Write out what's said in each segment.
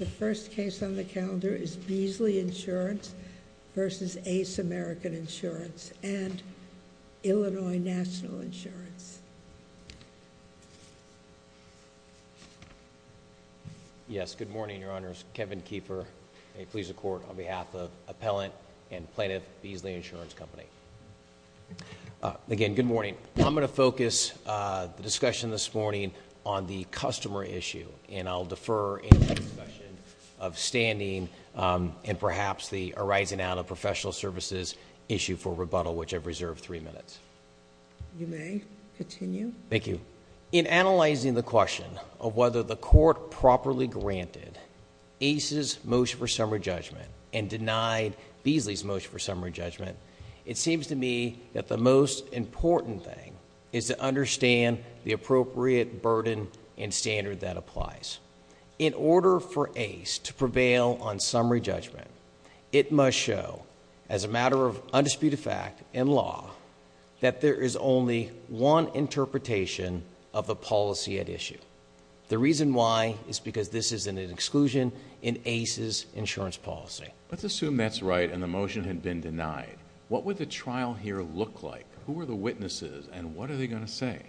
The first case on the calendar is Beazley Insurance versus Ace American Insurance and Illinois National Insurance. Yes. Good morning, Your Honors. Kevin Keefer. May it please the Court, on behalf of Appellant and Plaintiff Beazley Insurance Company. Again, good morning. I'm going to focus the discussion this morning on the customer issue and I'll focus the discussion of standing and perhaps the arising out of professional services issue for rebuttal, which I've reserved three minutes. You may continue. Thank you. In analyzing the question of whether the court properly granted Ace's motion for summary judgment and denied Beazley's motion for summary judgment, it seems to me that the most important thing is to understand the appropriate burden and standard that applies. In order for Ace to prevail on summary judgment, it must show, as a matter of undisputed fact in law, that there is only one interpretation of the policy at issue. The reason why is because this is an exclusion in Ace's insurance policy. Let's assume that's right and the motion had been denied. What would the trial here look like? Who are the witnesses and what are they going to say?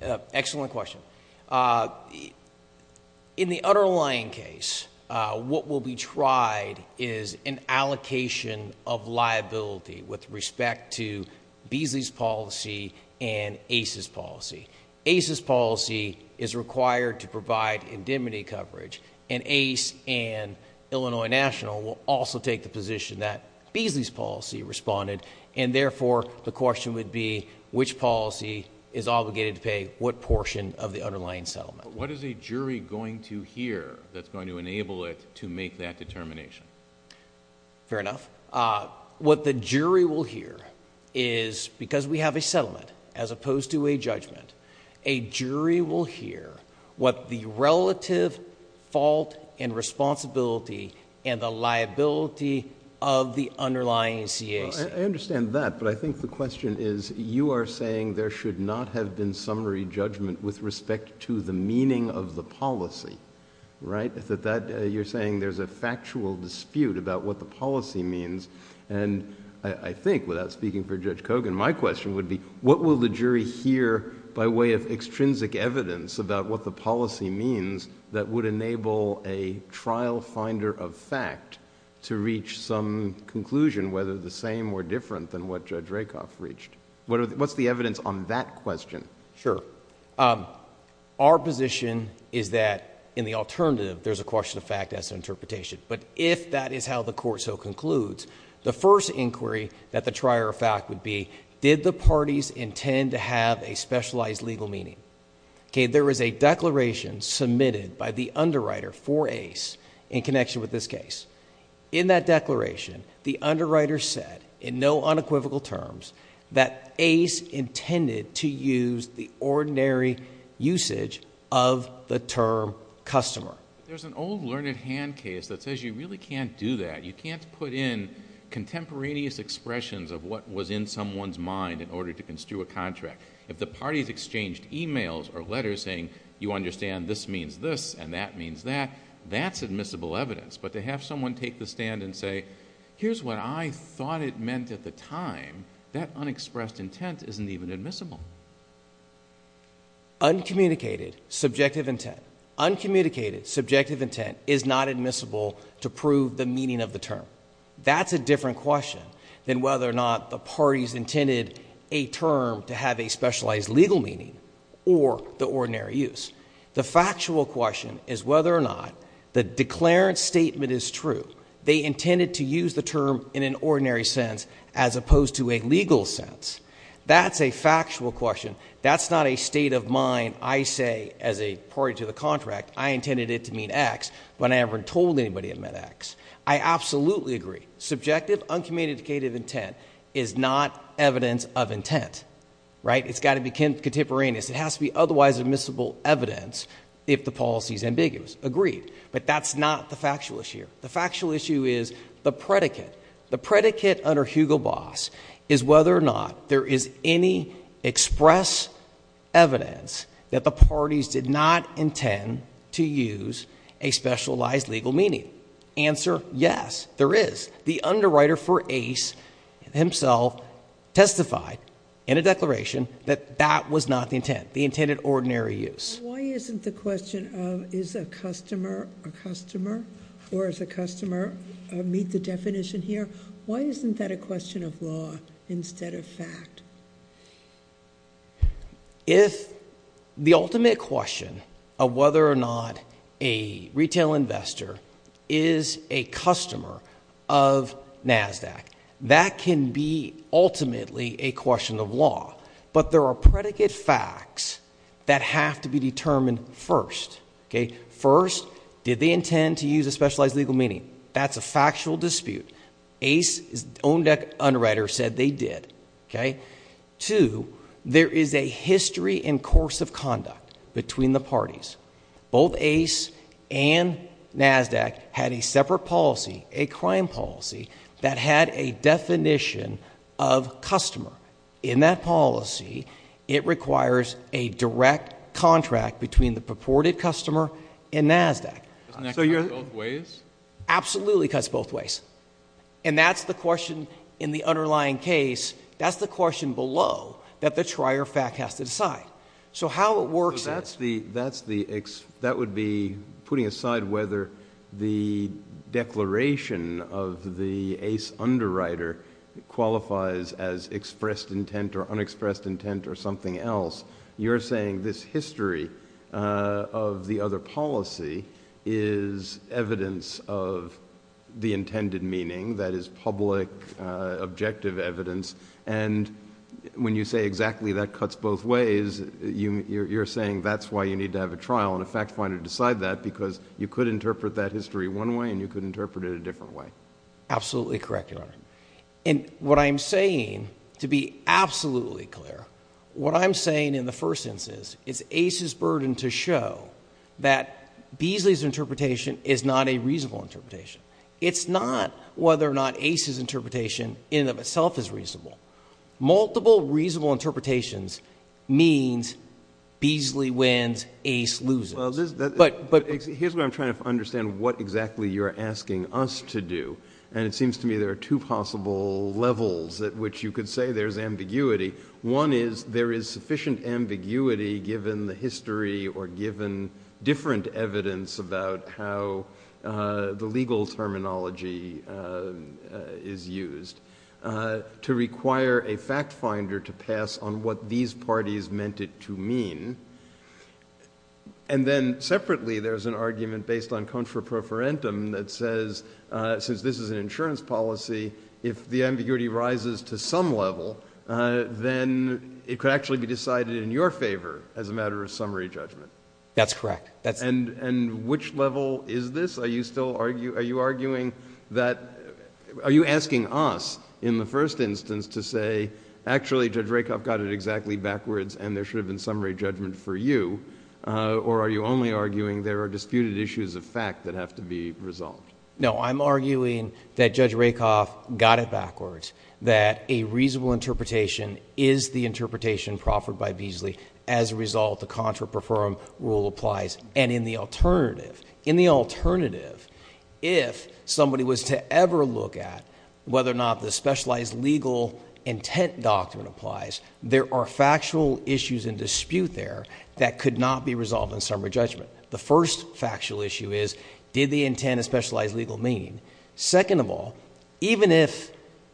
Excellent question. In the underlying case, what will be tried is an allocation of liability with respect to Beazley's policy and Ace's policy. Ace's policy is required to provide indemnity coverage and Ace and Illinois National will also take the position that Beazley's policy responded and therefore, the question would be which policy is obligated to pay what portion of the underlying settlement. What is a jury going to hear that's going to enable it to make that determination? Fair enough. What the jury will hear is because we have a settlement as opposed to a judgment, a jury will hear what the relative fault and responsibility and the liability of the underlying CAC. I understand that, but I think the question is you are saying there should not have been summary judgment with respect to the meaning of the policy, right? If at that, you're saying there's a factual dispute about what the policy means and I think without speaking for Judge Kogan, my question would be, what will the jury hear by way of extrinsic evidence about what the policy means that would enable a trial finder of fact to reach some conclusion whether the same or different than what Judge Rakoff reached? What's the evidence on that question? Sure. Our position is that in the alternative, there's a question of fact as interpretation, but if that is how the court so concludes, the first inquiry that the trier of fact would be, did the parties intend to have a specialized legal meaning? Okay. There is a declaration submitted by the underwriter for Ace in connection with this case. In that declaration, the underwriter said in no unequivocal terms that Ace intended to use the ordinary usage of the term customer. There's an old learned hand case that says you really can't do that. You can't put in contemporaneous expressions of what was in someone's mind in order to construe a contract. If the parties exchanged emails or letters saying you understand this means this and that means that, that's admissible evidence, but to have someone take the stand and say, here's what I thought it meant at the time, that unexpressed intent isn't even admissible. Uncommunicated subjective intent. Uncommunicated subjective intent is not admissible to prove the meaning of the term. That's a different question than whether or not the parties intended a term to have a specialized legal meaning or the ordinary use. The factual question is whether or not the declarant statement is true. They intended to use the term in an ordinary sense as opposed to a legal sense. That's a factual question. That's not a state of mind. I say as a party to the contract, I intended it to mean X, but I haven't told anybody it meant X. I absolutely agree. Subjective uncommunicated intent is not evidence of intent, right? It's got to be contemporaneous. It has to be otherwise admissible evidence if the policy is ambiguous. Agreed. But that's not the factual issue. The factual issue is the predicate. The predicate under Hugo Boss is whether or not there is any express evidence that the parties did not intend to use a specialized legal meaning. Answer? Yes, there is. The underwriter for Ace himself testified in a declaration that that was not the intent, the intended ordinary use. Why isn't the question of is a customer a customer or is a customer meet the definition here? Why isn't that a question of law instead of fact? If the ultimate question of whether or not a retail investor is a customer of NASDAQ, that can be ultimately a question of law, but there are predicate facts that have to be determined first. Okay, first, did they intend to use a specialized legal meaning? That's a factual dispute. Ace's own deck underwriter said they did. Okay, two, there is a history and course of conduct between the parties. Both Ace and NASDAQ had a separate policy, a crime policy that had a definition of customer in that policy. It requires a direct contract between the purported customer and NASDAQ. Doesn't that cut both ways? Absolutely cuts both ways. And that's the question in the underlying case. That's the question below that the trier fact has to decide. So how it works is— That's the, that would be putting aside whether the declaration of the Ace underwriter qualifies as expressed intent or unexpressed intent or something else. You're saying this history of the other policy is evidence of the intended meaning that is public objective evidence. And when you say exactly that cuts both ways, you're saying that's why you need to have a trial and a fact finder decide that because you could interpret that history one way and you could interpret it a different way. Absolutely correct, Your Honor. And what I'm saying, to be absolutely clear, what I'm saying in the first instance is Ace's burden to show that Beasley's interpretation is not a reasonable interpretation. It's not whether or not Ace's interpretation in and of itself is reasonable. Multiple reasonable interpretations means Beasley wins, Ace loses. But here's where I'm trying to understand what exactly you're asking us to do. And it seems to me there are two possible levels at which you could say there's ambiguity. One is there is sufficient ambiguity given the history or given different evidence about how the legal terminology is used to require a fact finder to pass on what these parties meant it to mean. And then separately, there's an argument based on contra pro forentum that says, since this is an insurance policy, if the ambiguity rises to some level, then it could actually be decided in your favor as a matter of summary judgment. That's correct. And which level is this? Are you still arguing, are you arguing that, are you asking us in the first instance to say, actually, Judge Rakoff got it exactly backwards and there should have been summary judgment. For you, or are you only arguing there are disputed issues of fact that have to be resolved? No, I'm arguing that Judge Rakoff got it backwards, that a reasonable interpretation is the interpretation proffered by Beasley. As a result, the contra pro forentum rule applies. And in the alternative, in the alternative, if somebody was to ever look at whether or not the specialized legal intent doctrine applies, there are factual issues in dispute there that could not be resolved in summary judgment. The first factual issue is, did the intent of specialized legal mean? Second of all, even if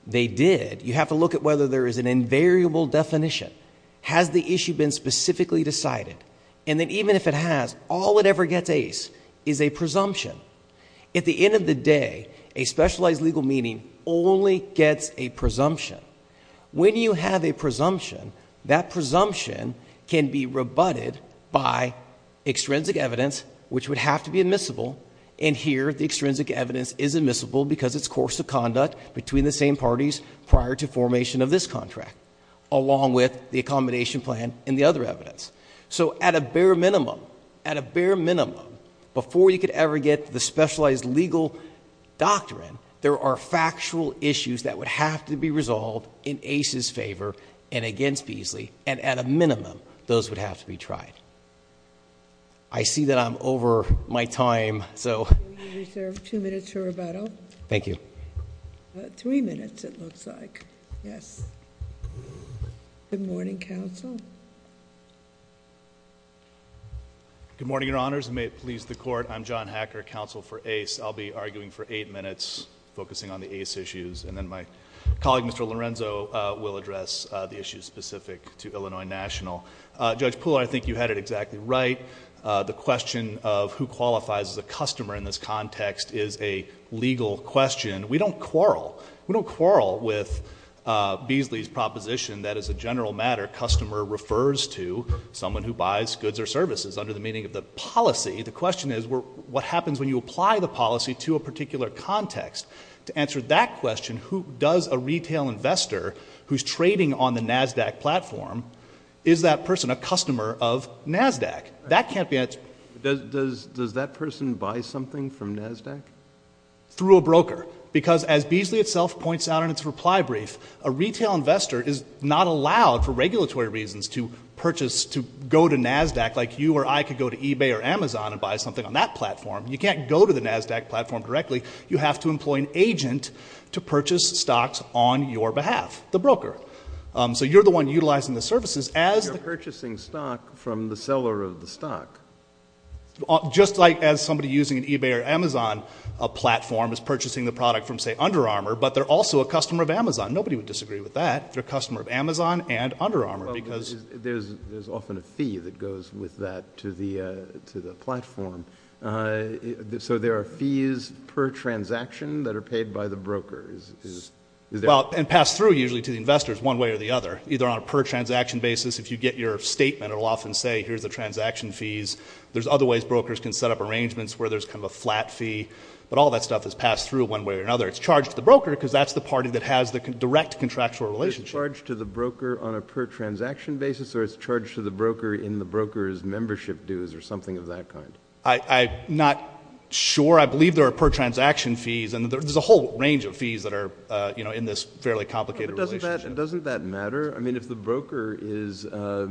they did, you have to look at whether there is an invariable definition. Has the issue been specifically decided? And then even if it has, all it ever gets ace is a presumption. At the end of the day, a specialized legal meaning only gets a presumption. When you have a presumption, that presumption can be rebutted by extrinsic evidence, which would have to be admissible. And here the extrinsic evidence is admissible because it's course of conduct between the same parties prior to formation of this contract, along with the accommodation plan and the other evidence. So at a bare minimum, at a bare minimum, before you could ever get the specialized legal doctrine, there are factual issues that would have to be resolved in ACE's favor and against Beasley. And at a minimum, those would have to be tried. I see that I'm over my time. So. Two minutes for rebuttal. Thank you. Three minutes. It looks like. Yes. Good morning, counsel. Good morning, your honors. May it please the court. I'm John Hacker, counsel for ACE. I'll be arguing for eight minutes, focusing on the ACE issues. And then my colleague, Mr. Lorenzo, will address the issues specific to Illinois National. Judge Poole, I think you had it exactly right. The question of who qualifies as a customer in this context is a legal question. We don't quarrel. We don't quarrel with Beasley's proposition that as a general matter, customer refers to someone who buys goods or services under the meaning of the policy. The question is what happens when you apply the policy to a particular context to answer that question? Who does a retail investor who's trading on the NASDAQ platform? Is that person a customer of NASDAQ? That can't be answered. Does, does, does that person buy something from NASDAQ? Through a broker, because as Beasley itself points out in its reply brief, a retail investor is not allowed for regulatory reasons to purchase, to go to eBay or Amazon and buy something on that platform. You can't go to the NASDAQ platform directly. You have to employ an agent to purchase stocks on your behalf, the broker. So you're the one utilizing the services as the purchasing stock from the seller of the stock. Just like as somebody using an eBay or Amazon platform is purchasing the product from say Under Armour, but they're also a customer of Amazon. Nobody would disagree with that. They're a customer of Amazon and Under Armour because there's, there's often a fee that goes with that to the, to the platform. So there are fees per transaction that are paid by the broker. Is, is, is there? Well, and passed through usually to the investors one way or the other, either on a per transaction basis. If you get your statement, it'll often say, here's the transaction fees. There's other ways brokers can set up arrangements where there's kind of a flat fee, but all that stuff is passed through one way or another. It's charged to the broker because that's the party that has the direct contractual relationship. It's charged to the broker on a per transaction basis or it's charged to the broker in the broker's membership dues or something of that kind. I, I'm not sure. I believe there are per transaction fees and there's a whole range of fees that are, you know, in this fairly complicated relationship. Doesn't that matter? I mean, if the broker is a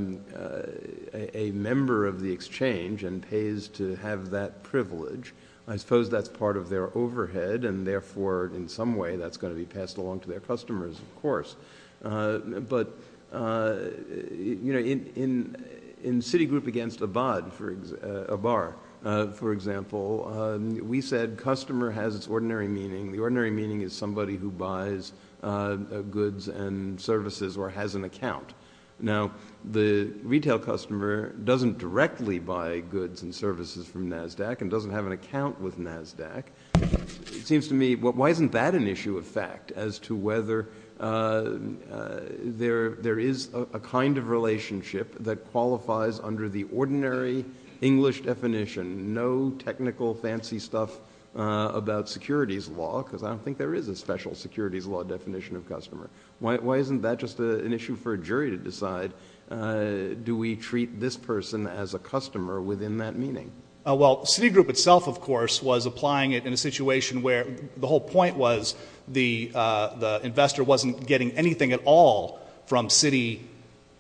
member of the exchange and pays to have that privilege, I suppose that's part of their overhead and therefore in some way that's going to be passed along to their customers, of course. But, you know, in, in, in Citigroup against Abad for a bar, for example, we said customer has its ordinary meaning. The ordinary meaning is somebody who buys goods and services or has an account. Now the retail customer doesn't directly buy goods and services from NASDAQ and doesn't have an account with NASDAQ. It seems to me, why isn't that an issue of fact as to whether there, there is a kind of relationship that qualifies under the ordinary English definition, no technical fancy stuff about securities law, because I don't think there is a special securities law definition of customer. Why, why isn't that just an issue for a jury to decide? Do we treat this person as a customer within that meaning? Well, Citigroup itself, of course, was applying it in a situation where the whole point was the, the investor wasn't getting anything at all from City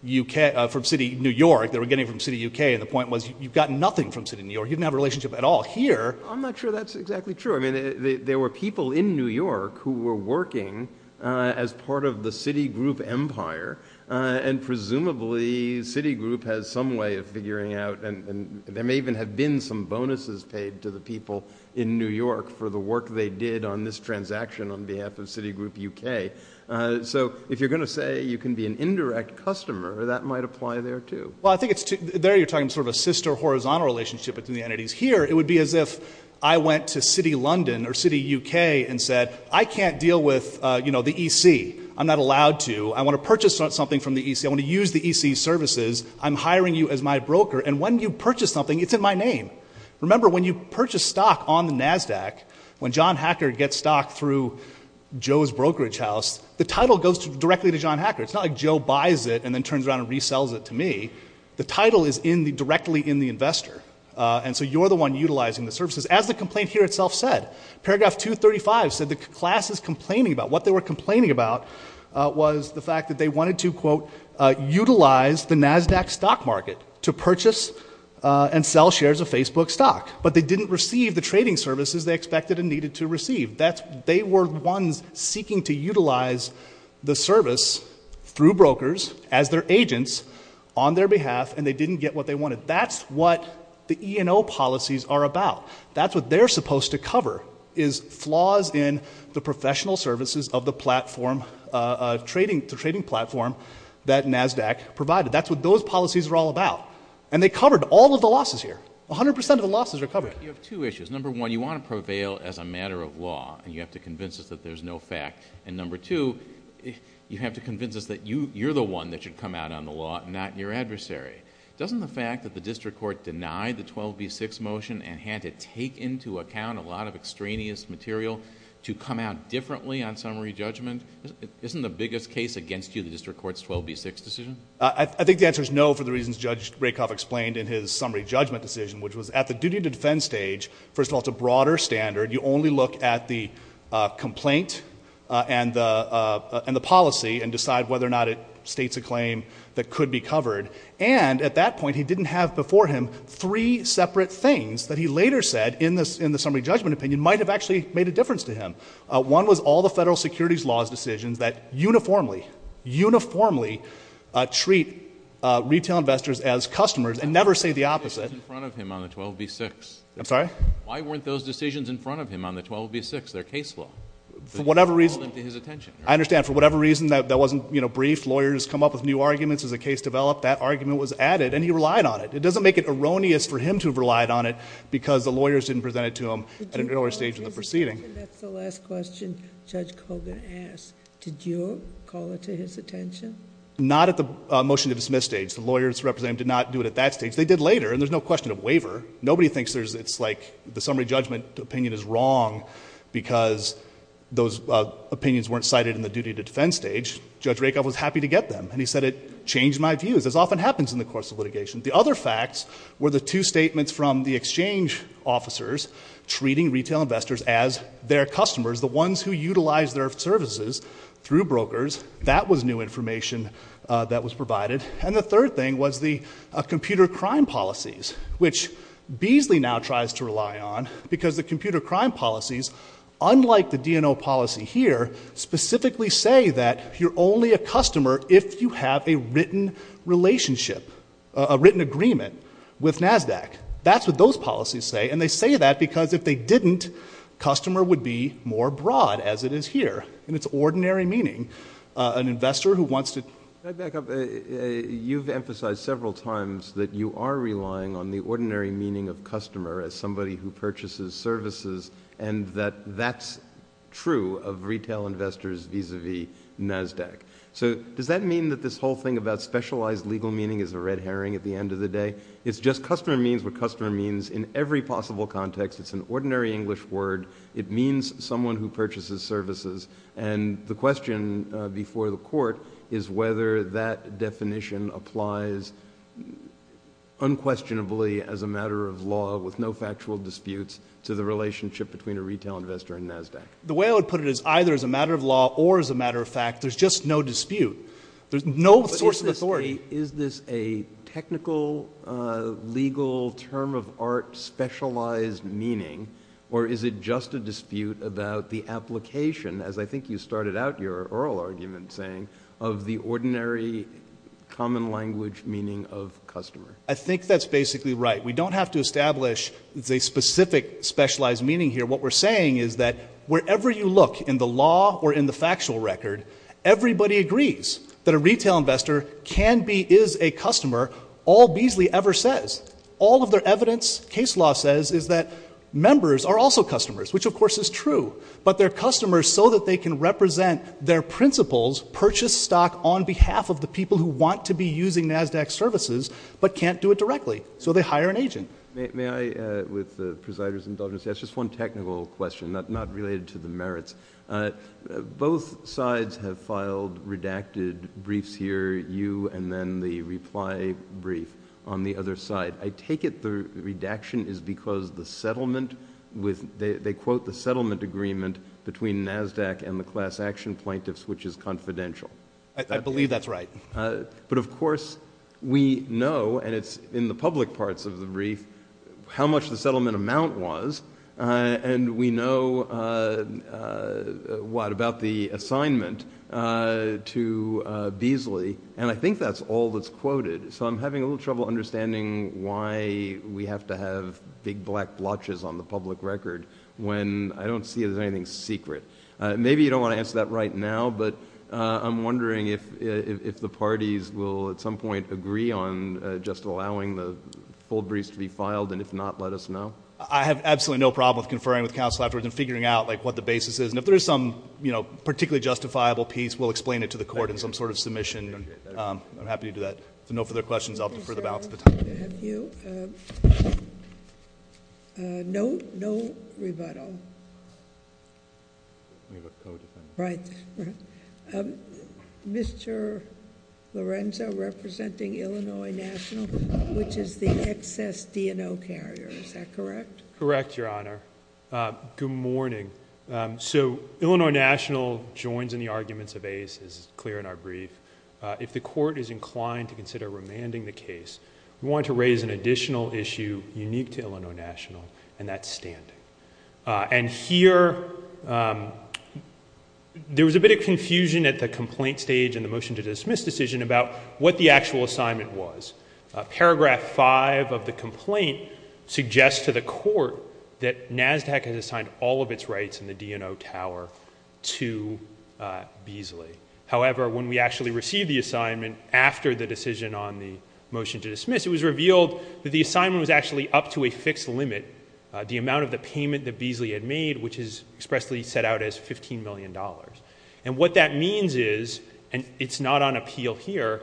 UK, from City New York, they were getting from City UK. And the point was, you've got nothing from City New York. You didn't have a relationship at all here. I'm not sure that's exactly true. I mean, there were people in New York who were working as part of the Citigroup empire and presumably Citigroup has some way of figuring out, and there may even have been some bonuses paid to the people in New York for the work they did on this transaction on behalf of Citigroup UK. So if you're going to say you can be an indirect customer, that might apply there too. Well, I think it's, there you're talking sort of a sister horizontal relationship between the entities. Here, it would be as if I went to City London or City UK and said, I can't deal with, you know, the EC. I'm not allowed to, I want to purchase something from the EC. I want to use the EC services. I'm hiring you as my broker. And when you purchase something, it's in my name. Remember when you purchase stock on the NASDAQ, when John Hacker gets stock through Joe's brokerage house, the title goes directly to John Hacker. It's not like Joe buys it and then turns around and resells it to me. The title is in the directly in the investor. And so you're the one utilizing the services. As the complaint here itself said, paragraph 235 said the class is complaining about what they were complaining about was the fact that they wanted to quote, utilize the NASDAQ stock market to purchase and sell shares of Facebook stock, but they didn't receive the trading services they expected and needed to receive. That's, they were ones seeking to utilize the service through brokers as their agents on their behalf, and they didn't get what they wanted. That's what the E&O policies are about. That's what they're supposed to cover is flaws in the professional services of the platform, the trading platform that NASDAQ provided. That's what those policies are all about. And they covered all of the losses here. A hundred percent of the losses are covered. You have two issues. Number one, you want to prevail as a matter of law and you have to convince us that there's no fact. And number two, you have to convince us that you, you're the one that should come out on the law, not your adversary. Doesn't the fact that the district court denied the 12B6 motion and had to take into account a lot of extraneous material to come out differently on summary judgment, isn't the biggest case against you, the district court's 12B6 decision? I think the answer is no, for the reasons Judge Rakoff explained in his summary judgment decision, which was at the duty to defend stage, first of all, it's a broader standard. You only look at the complaint and the policy and decide whether or not it states a claim that could be covered. And at that point, he didn't have before him three separate things that he later said in the summary judgment opinion might have actually made a difference to him. One was all the federal securities laws decisions that uniformly, uniformly treat retail investors as customers and never say the opposite. Why weren't those decisions in front of him on the 12B6? They're case law. For whatever reason, I understand for whatever reason that that wasn't, you know, brief lawyers come up with new arguments as a case developed. That argument was added and he relied on it. It doesn't make it erroneous for him to have relied on it because the lawyers didn't present it to him at an earlier stage of the proceeding. And that's the last question Judge Kogan asked. Did you call it to his attention? Not at the motion to dismiss stage. The lawyers representing him did not do it at that stage. They did later and there's no question of waiver. Nobody thinks it's like the summary judgment opinion is wrong because those opinions weren't cited in the duty to defend stage. Judge Rakoff was happy to get them and he said it changed my views, as often happens in the course of litigation. The other facts were the two statements from the exchange officers treating retail investors as their customers, the ones who utilize their services through brokers. That was new information that was provided. And the third thing was the computer crime policies, which Beasley now tries to rely on because the computer crime policies, unlike the DNO policy here, specifically say that you're only a customer if you have a written relationship, a written agreement with NASDAQ. That's what those policies say. And they say that because if they didn't, customer would be more broad as it is here in its ordinary meaning. An investor who wants to... Can I back up? You've emphasized several times that you are relying on the ordinary meaning of customer as somebody who purchases services and that that's true of retail investors vis-a-vis NASDAQ. So does that mean that this whole thing about specialized legal meaning is a red herring at the end of the day? It's just customer means what customer means in every possible context. It's an ordinary English word. It means someone who purchases services. And the question before the court is whether that definition applies unquestionably as a matter of law with no factual disputes to the relationship between a retail investor and NASDAQ. The way I would put it is either as a matter of law or as a matter of fact, there's just no dispute. There's no source of authority. Is this a technical legal term of art specialized meaning or is it just a dispute about the application as I think you started out your oral argument saying of the ordinary common language meaning of customer? I think that's basically right. We don't have to establish a specific specialized meaning here. What we're saying is that wherever you look in the law or in the factual record, everybody agrees that a retail investor can be is a customer. All Beasley ever says all of their evidence case law says is that members are also customers, which of course is true, but their customers so that they can represent their principles, purchase stock on behalf of the people who want to be using NASDAQ services, but can't do it directly. So they hire an agent. May I with the presiders indulgence? That's just one technical question that not related to the merits. Both sides have filed redacted briefs here. You and then the reply brief on the other side. I take it. The redaction is because the settlement with they quote the settlement agreement between NASDAQ and the class action plaintiffs, which is confidential. I believe that's right. But of course we know and it's in the public parts of the brief how much the what about the assignment to Beasley? And I think that's all that's quoted. So I'm having a little trouble understanding why we have to have big black blotches on the public record when I don't see it as anything secret. Maybe you don't want to answer that right now, but I'm wondering if the parties will at some point agree on just allowing the full briefs to be filed. And if not, let us know. I have absolutely no problem with conferring with counsel afterwards and figuring out like what the basis is. And if there is some, you know, particularly justifiable piece, we'll explain it to the court in some sort of submission. I'm happy to do that. So no further questions. I'll defer the balance of the time. No, no rebuttal. Right. Mr. Lorenzo representing Illinois National, which is the excess DNO carrier. Is that correct? Correct. Your honor. Good morning. So Illinois National joins in the arguments of ACE as clear in our brief. If the court is inclined to consider remanding the case, we want to raise an additional issue unique to Illinois National and that's standing. And here there was a bit of confusion at the complaint stage and the motion to dismiss decision about what the actual assignment was. Paragraph five of the complaint suggests to the court that NASDAQ has assigned all of its rights in the DNO tower to Beasley. However, when we actually received the assignment after the decision on the motion to dismiss, it was revealed that the assignment was actually up to a fixed limit, the amount of the payment that Beasley had made, which is expressly set out as $15 million. And what that means is, and it's not on appeal here,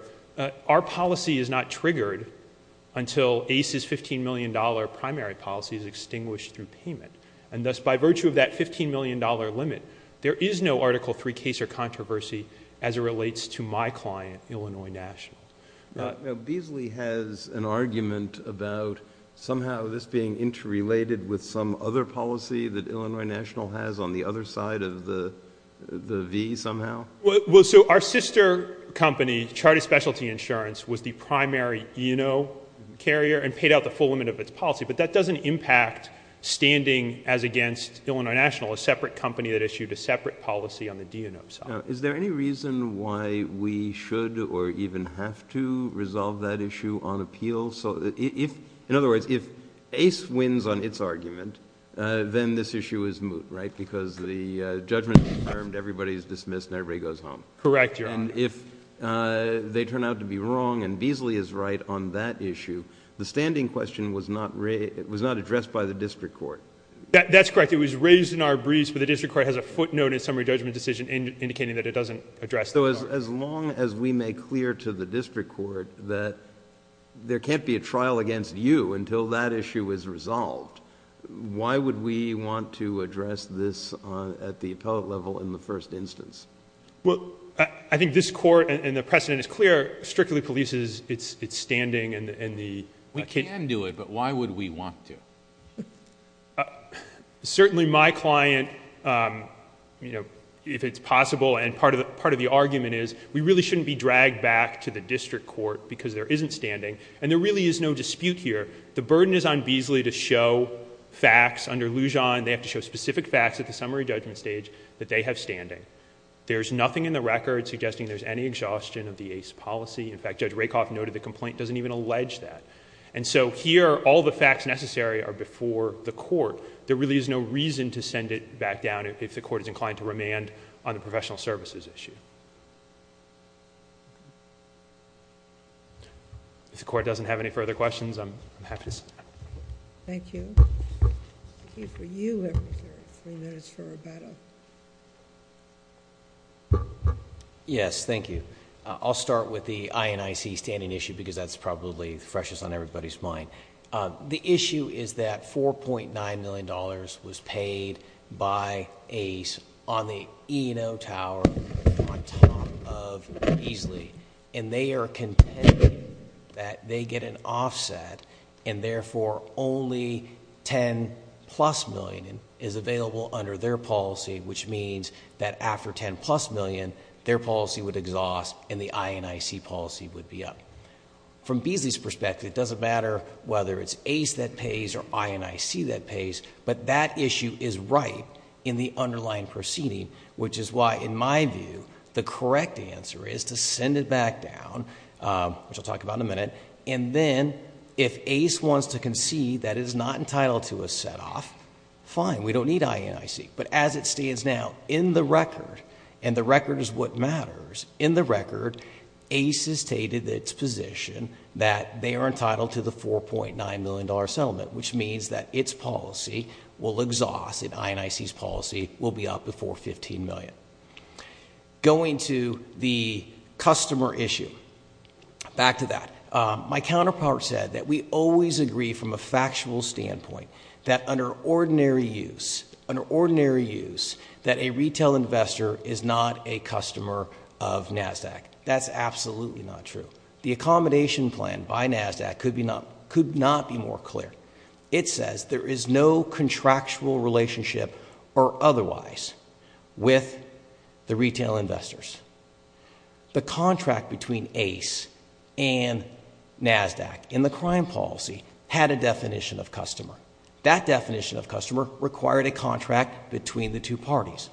our policy is not triggered until ACE's $15 million primary policy is extinguished through payment. And thus by virtue of that $15 million limit, there is no article three case or controversy as it relates to my client, Illinois National. Now Beasley has an argument about somehow this being interrelated with some other policy that Illinois National has on the other side of the V somehow. Well, so our sister company, Charity Specialty Insurance, was the primary ENO carrier and paid out the full limit of its policy. But that doesn't impact standing as against Illinois National, a separate company that issued a separate policy on the DNO side. Is there any reason why we should, or even have to, resolve that issue on appeal? So if, in other words, if ACE wins on its argument, then this issue is moot, right? Because the judgment is confirmed, everybody's dismissed and everybody goes home. Correct, Your Honor. And if they turn out to be wrong and Beasley is right on that issue, the judgment was not addressed by the district court. That's correct. It was raised in our briefs, but the district court has a footnote in summary judgment decision indicating that it doesn't address the problem. So as long as we make clear to the district court that there can't be a trial against you until that issue is resolved, why would we want to address this at the appellate level in the first instance? Well, I think this court and the precedent is clear, strictly police's, it's standing and the... We can do it, but why would we want to? Certainly my client, if it's possible, and part of the argument is, we really shouldn't be dragged back to the district court because there isn't standing and there really is no dispute here. The burden is on Beasley to show facts under Lujan. They have to show specific facts at the summary judgment stage that they have standing. There's nothing in the record suggesting there's any exhaustion of the ACE policy. In fact, Judge Rakoff noted the complaint doesn't even allege that. And so here, all the facts necessary are before the court. There really is no reason to send it back down if the court is inclined to remand on the professional services issue. If the court doesn't have any further questions, I'm happy to... Thank you. Thank you. For you, everybody, three minutes for rebuttal. Yes. Thank you. I'll start with the INIC standing issue because that's probably freshest on everybody's mind. The issue is that $4.9 million was paid by ACE on the E&O tower on top of Beasley and they are contending that they get an offset and therefore only 10 plus million is available under their policy, which means that after 10 plus million, their policy would exhaust and the INIC policy would be up. From Beasley's perspective, it doesn't matter whether it's ACE that pays or INIC that pays, but that issue is right in the underlying proceeding, which is why, in my view, the correct answer is to send it back down, which I'll talk about in a minute, and then if ACE wants to concede that it is not entitled to a set-off, fine, we don't need INIC. But as it stands now, in the record, and the record is what matters, in the position that they are entitled to the $4.9 million settlement, which means that its policy will exhaust and INIC's policy will be up before 15 million. Going to the customer issue, back to that. My counterpart said that we always agree from a factual standpoint that under ordinary use, under ordinary use, that a retail investor is not a customer of NASDAQ. That's absolutely not true. The accommodation plan by NASDAQ could not be more clear. It says there is no contractual relationship or otherwise with the retail investors. The contract between ACE and NASDAQ in the crime policy had a definition of customer. That definition of customer required a contract between the two parties.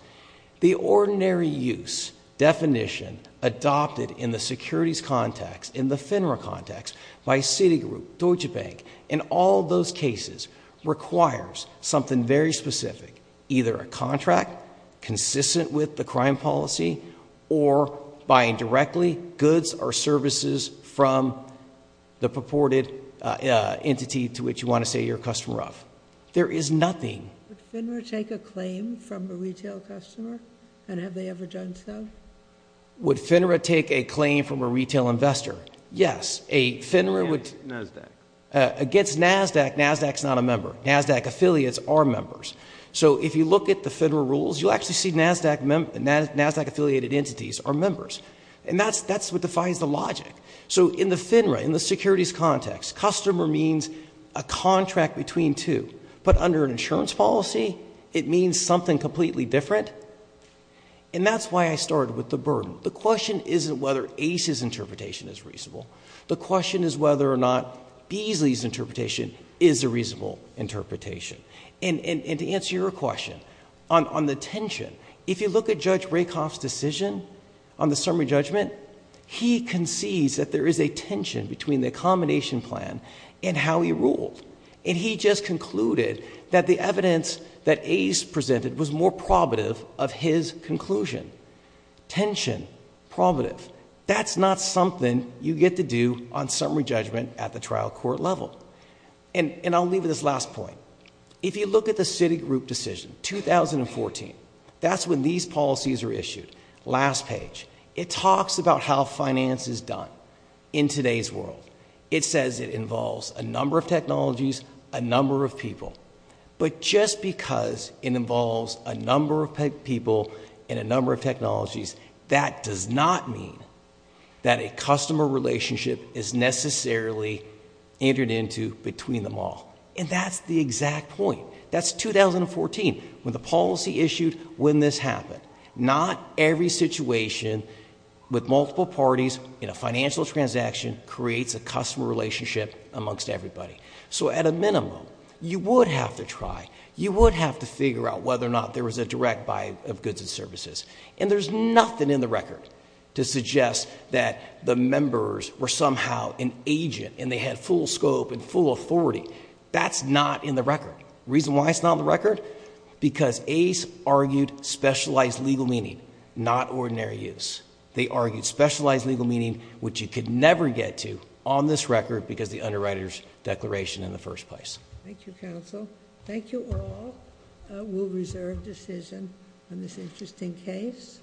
The ordinary use definition adopted in the securities context, in the FINRA context, by Citigroup, Deutsche Bank, in all those cases, requires something very specific. Either a contract consistent with the crime policy, or buying directly goods or services from the purported entity to which you want to say you're a customer of. There is nothing. Would FINRA take a claim from a retail customer? And have they ever done so? Would FINRA take a claim from a retail investor? Yes. Against NASDAQ, NASDAQ is not a member. NASDAQ affiliates are members. So if you look at the FINRA rules, you'll actually see NASDAQ affiliated entities are members. And that's what defines the logic. So in the FINRA, in the securities context, customer means a contract between two. But under an insurance policy, it means something completely different. And that's why I started with the burden. The question isn't whether Ace's interpretation is reasonable. The question is whether or not Beasley's interpretation is a reasonable interpretation. And to answer your question, on the tension, if you look at Judge Rakoff's decision on the summary judgment, he concedes that there is a tension between the accommodation plan and how he ruled. And he just concluded that the evidence that Ace presented was more probative of his conclusion. Tension, probative. That's not something you get to do on summary judgment at the trial court level. And I'll leave with this last point. If you look at the Citigroup decision, 2014, that's when these policies are issued. Last page. It talks about how finance is done in today's world. It says it involves a number of technologies, a number of people. But just because it involves a number of people and a number of technologies, that does not mean that a customer relationship is necessarily entered into between them all. And that's the exact point. That's 2014, when the policy issued, when this happened. Not every situation with multiple parties in a financial transaction creates a customer relationship amongst everybody. So at a minimum, you would have to try. You would have to figure out whether or not there was a direct buy of goods and services. And there's nothing in the record to suggest that the members were somehow an agent and they had full scope and full authority. That's not in the record. Reason why it's not in the record? Because Ace argued specialized legal meaning, not ordinary use. They argued specialized legal meaning, which you could never get to on this record because the underwriter's declaration in the first place. Thank you, counsel. Thank you all. We'll reserve decision on this interesting case.